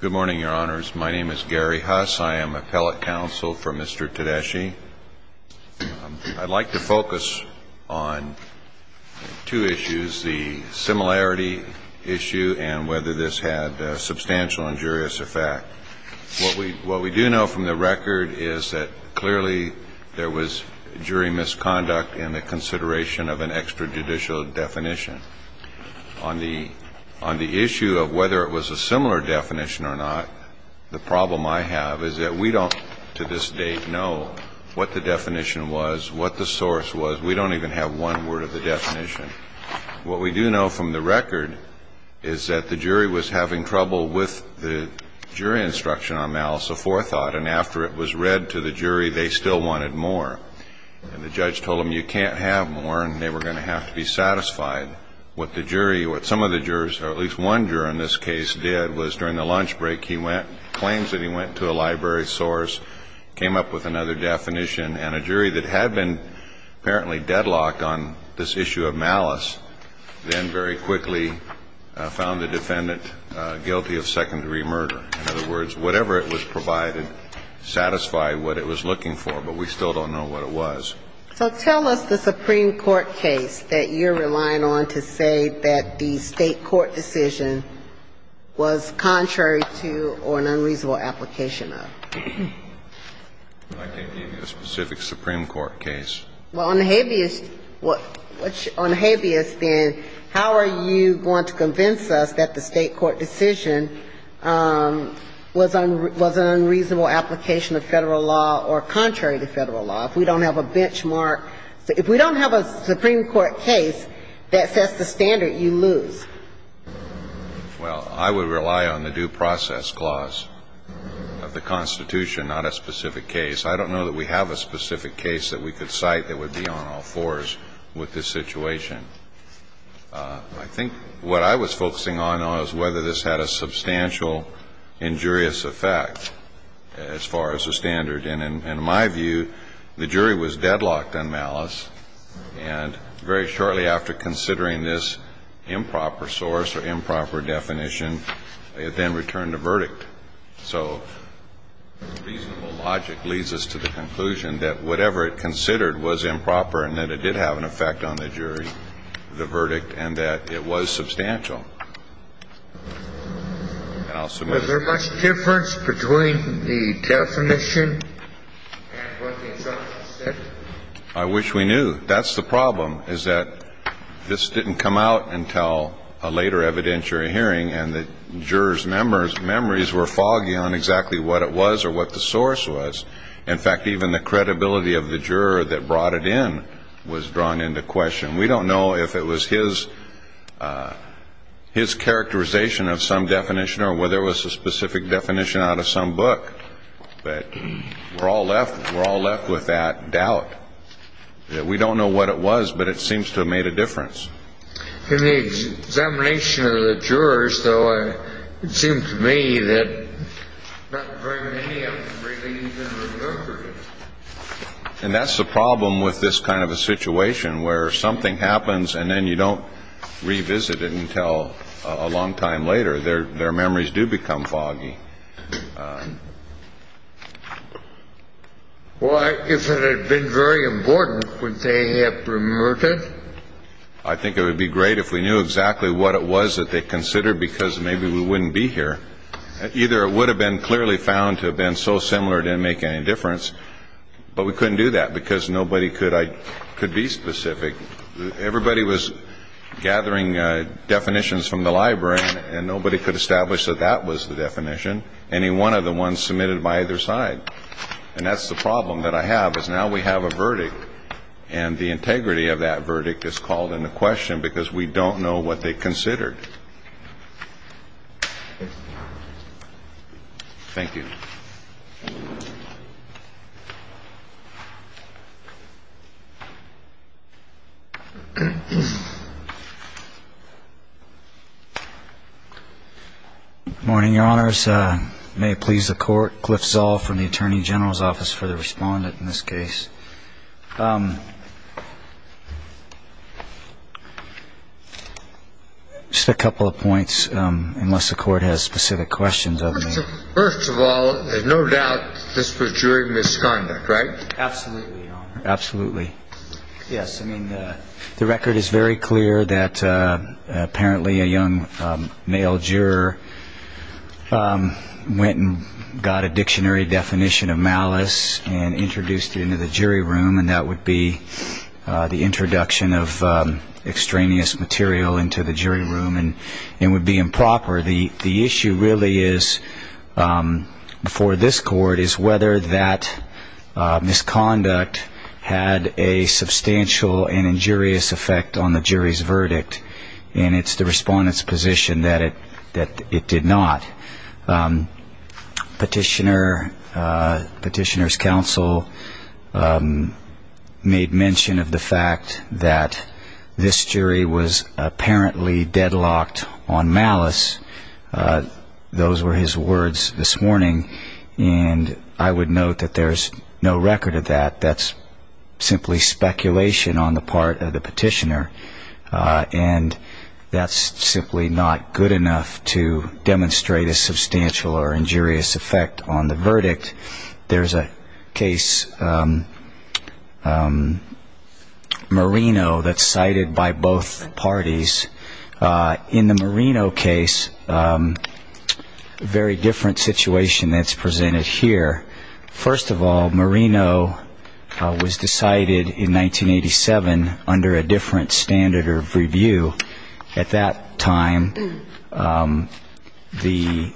Good morning, Your Honors. My name is Gary Huss. I am appellate counsel for Mr. Tedeschi. I'd like to focus on two issues, the similarity issue and whether this had substantial injurious effect. What we do know from the record is that clearly there was jury misconduct in the consideration of an extrajudicial definition. On the issue of whether it was a similar definition or not, the problem I have is that we don't, to this date, know what the definition was, what the source was. We don't even have one word of the definition. What we do know from the record is that the jury was having trouble with the jury instruction on malice aforethought. And after it was read to the jury, they still wanted more. And the judge told them, you can't have more, and they were going to have to be satisfied. What the jury, what some of the jurors, or at least one juror in this case, did was during the lunch break he went, claims that he went to a library source, came up with another definition, and a jury that had been apparently deadlocked on this issue of malice, then very quickly found the defendant guilty of second-degree murder. In other words, whatever it was provided satisfied what it was looking for, but we still don't know what it was. So tell us the Supreme Court case that you're relying on to say that the State court decision was contrary to or an unreasonable application of. I can't give you a specific Supreme Court case. Well, on habeas, on habeas then, how are you going to convince us that the State court decision was an unreasonable application of Federal law or contrary to Federal law? If we don't have a benchmark, if we don't have a Supreme Court case that sets the standard, you lose. Well, I would rely on the due process clause of the Constitution, not a specific case. I don't know that we have a specific case that we could cite that would be on all fours with this situation. I think what I was focusing on was whether this had a substantial injurious effect as far as the standard. And in my view, the jury was deadlocked on malice, and very shortly after considering this improper source or improper definition, it then returned a verdict. So reasonable logic leads us to the conclusion that whatever it considered was improper and that it did have an effect on the jury, the verdict, and that it was substantial. And I'll submit it. Was there much difference between the definition and what the assailant said? I wish we knew. That's the problem, is that this didn't come out until a later evidentiary hearing, and the jurors' memories were foggy on exactly what it was or what the source was. In fact, even the credibility of the juror that brought it in was drawn into question. We don't know if it was his characterization of some definition or whether it was a specific definition out of some book, but we're all left with that doubt. We don't know what it was, but it seems to have made a difference. In the examination of the jurors, though, it seemed to me that not very many of them really even remembered it. And that's the problem with this kind of a situation where something happens and then you don't revisit it until a long time later. Their memories do become foggy. Well, if it had been very important, would they have remembered it? I think it would be great if we knew exactly what it was that they considered because maybe we wouldn't be here. Either it would have been clearly found to have been so similar it didn't make any difference, but we couldn't do that because nobody could be specific. Everybody was gathering definitions from the library, and nobody could establish that that was the definition, any one of the ones submitted by either side. And that's the problem that I have, is now we have a verdict, and the integrity of that verdict is called into question because we don't know what they considered. Thank you. If this may please the Court, Cliff Zoll from the Attorney General's Office for the respondent in this case. Just a couple of points, unless the Court has specific questions of me. First of all, there's no doubt this was jury misconduct, right? Absolutely, Your Honor. Absolutely. Yes, I mean, the record is very clear that apparently a young male juror went and got a dictionary definition of malice and introduced it into the jury room, and that would be the introduction of extraneous material into the jury room, and it would be improper. The issue really is, for this Court, is whether that misconduct had a substantial and injurious effect on the jury's verdict, and it's the respondent's position that it did not. Petitioner's counsel made mention of the fact that this jury was apparently deadlocked on malice. Those were his words this morning, and I would note that there's no record of that. That's simply speculation on the part of the petitioner, and that's simply not good enough to demonstrate a substantial or injurious effect on the verdict. There's a case, Marino, that's cited by both parties. In the Marino case, a very different situation that's presented here. First of all, Marino was decided in 1987 under a different standard of review. At that time, the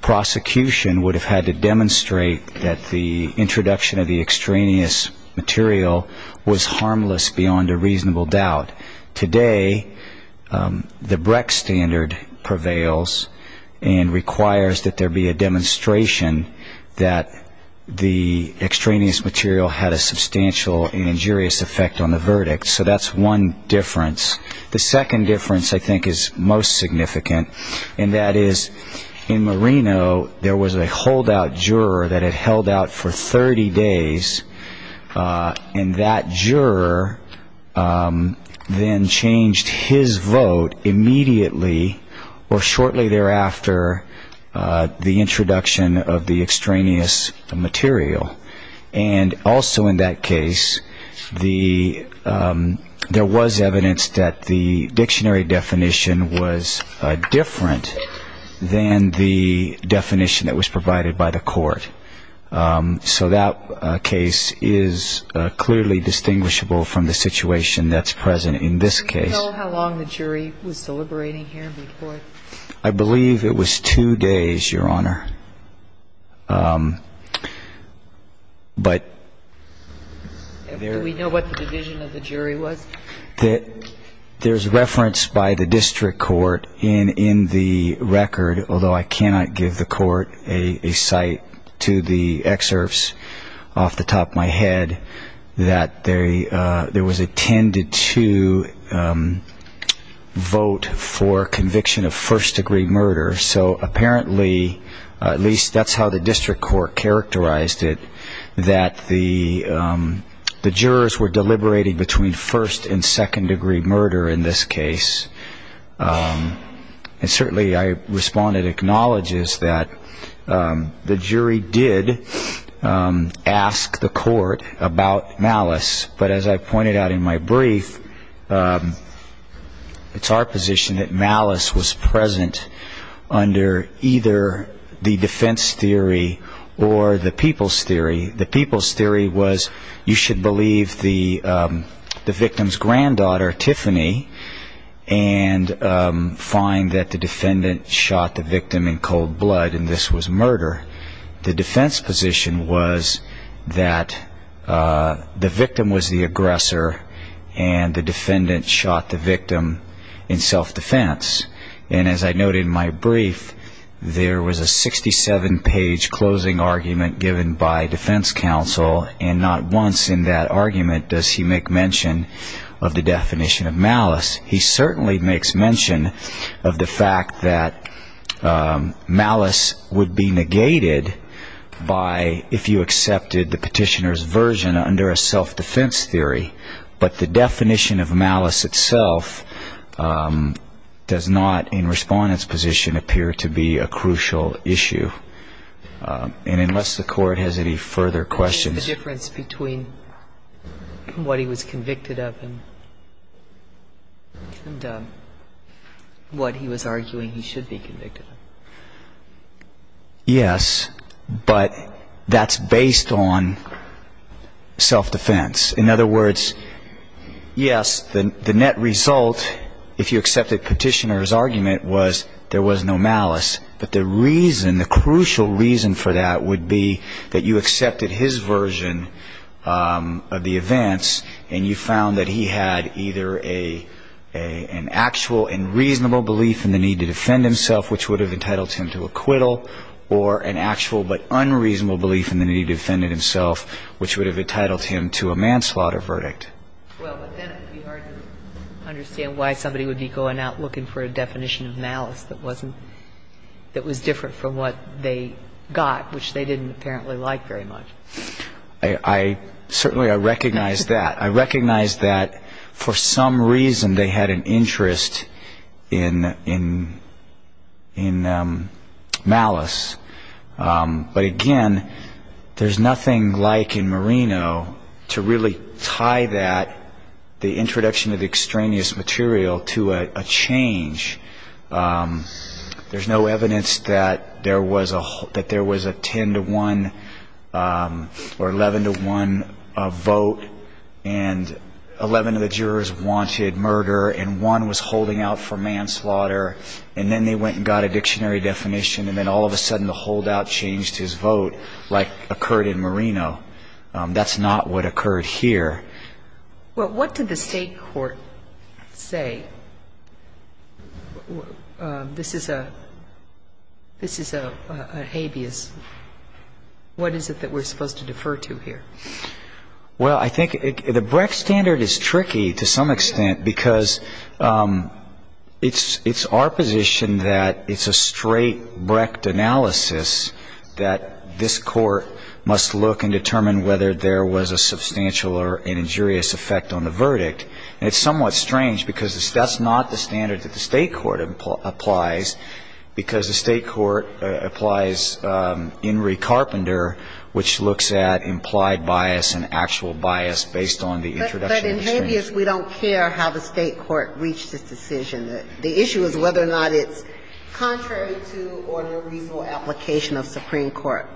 prosecution would have had to demonstrate that the introduction of the extraneous material was harmless beyond a reasonable doubt. Today, the Brecht standard prevails and requires that there be a demonstration that the extraneous material had a substantial and injurious effect on the verdict. So that's one difference. The second difference, I think, is most significant, and that is, in Marino, there was a holdout juror that had held out for 30 days, and that juror then changed his vote immediately or shortly thereafter the introduction of the extraneous material. And also in that case, there was evidence that the dictionary definition was different than the definition that was provided by the court. So that case is clearly distinguishable from the situation that's present in this case. Do you know how long the jury was deliberating here before? I believe it was two days, Your Honor. Do we know what the division of the jury was? There's reference by the district court in the record, although I cannot give the court a cite to the excerpts off the top of my head, that there was a 10-2 vote for conviction of first-degree murder. So apparently, at least that's how the district court characterized it, that the jurors were deliberating between first- and second-degree murder in this case. And certainly, I respond and acknowledge that the jury did ask the court about malice, but as I pointed out in my brief, it's our position that malice was present under either the defense theory or the people's theory. The people's theory was you should believe the victim's granddaughter, Tiffany, and find that the defendant shot the victim in cold blood, and this was murder. The defense position was that the victim was the aggressor, and the defendant shot the victim in self-defense. And as I noted in my brief, there was a 67-page closing argument given by defense counsel, and not once in that argument does he make mention of the definition of malice. He certainly makes mention of the fact that malice would be negated by if you accepted the petitioner's version under a self-defense theory, but the definition of malice itself does not, in Respondent's position, appear to be a crucial issue. And unless the court has any further questions. The difference between what he was convicted of and what he was arguing he should be convicted of. Yes, but that's based on self-defense. In other words, yes, the net result, if you accepted petitioner's argument, was there was no malice, but the reason, the crucial reason for that would be that you accepted his version of the events, and you found that he had either an actual and reasonable belief in the need to defend himself, which would have entitled him to acquittal, or an actual but unreasonable belief in the need to defend himself, which would have entitled him to a manslaughter verdict. Well, but then it would be hard to understand why somebody would be going out looking for a definition of malice that wasn't, that was different from what they got, which they didn't apparently like very much. I certainly, I recognize that. I recognize that for some reason they had an interest in malice. But again, there's nothing like in Marino to really tie that, the introduction of extraneous material, to a change. There's no evidence that there was a 10-to-1 or 11-to-1 vote, and 11 of the jurors wanted murder, and one was holding out for manslaughter, and then they went and got a dictionary definition, and then all of a sudden the holdout changed his vote, like occurred in Marino. That's not what occurred here. Well, what did the State court say? This is a habeas. What is it that we're supposed to defer to here? Well, I think the Brecht standard is tricky to some extent, because it's our position that it's a straight Brecht analysis that this court must look and determine whether there was a substantial or an injurious effect on the verdict. And it's somewhat strange, because that's not the standard that the State court applies, because the State court applies In re Carpenter, which looks at implied bias and actual bias based on the introduction of extraneous material. But in habeas, we don't care how the State court reached its decision. The issue is whether or not it's contrary to or in a reasonable application of Supreme Court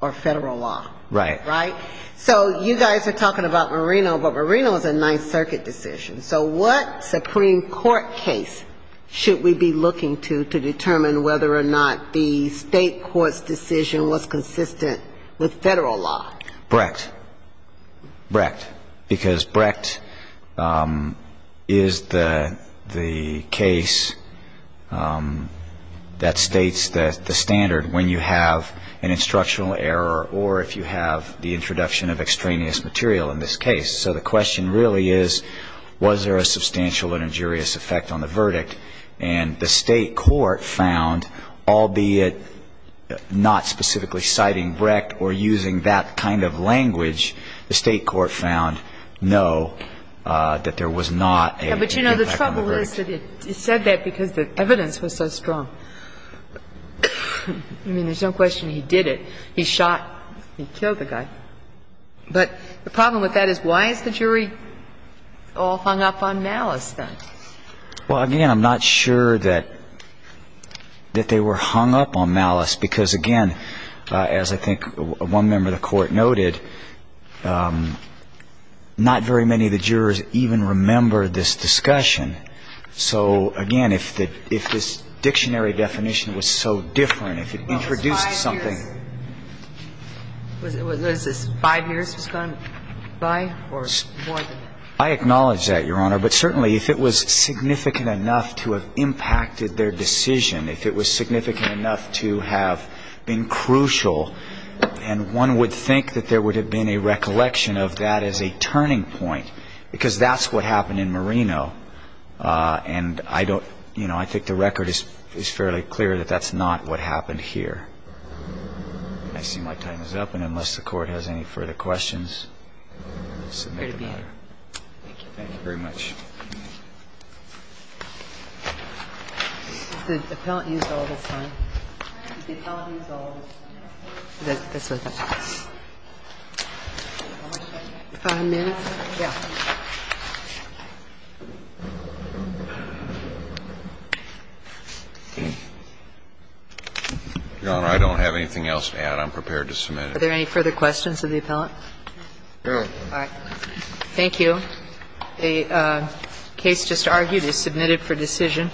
or Federal law. Right. Right? So you guys are talking about Marino, but Marino is a Ninth Circuit decision. So what Supreme Court case should we be looking to to determine whether or not the State court's decision was consistent with Federal law? Brecht. Brecht. Because Brecht is the case that states the standard when you have an instructional error or if you have the introduction of extraneous material in this case. So the question really is, was there a substantial or injurious effect on the verdict? And the State court found, albeit not specifically citing Brecht or using that kind of language, the State court found no, that there was not an effect on the verdict. But, you know, the trouble is that it said that because the evidence was so strong. I mean, there's no question he did it. He shot, he killed the guy. But the problem with that is why is the jury all hung up on malice then? Well, again, I'm not sure that they were hung up on malice because, again, as I think one member of the Court noted, not very many of the jurors even remember this discussion. So, again, if this dictionary definition was so different, if it introduced something. And so I think the question is, did you have an effect? And if there was, was it five years was gone by or more than that? I acknowledge that, Your Honor. But certainly if it was significant enough to have impacted their decision, if it was significant enough to have been crucial, and one would think that there would have been a recollection of that as a turning point, because that's what happened in I see my time is up, and unless the Court has any further questions, I submit the matter. Thank you. Thank you very much. Has the appellant used all of his time? Has the appellant used all of his time? Five minutes? Yeah. Your Honor, I don't have anything else to add. I'm prepared to submit it. Are there any further questions of the appellant? No. All right. Thank you. The case just argued is submitted for decision.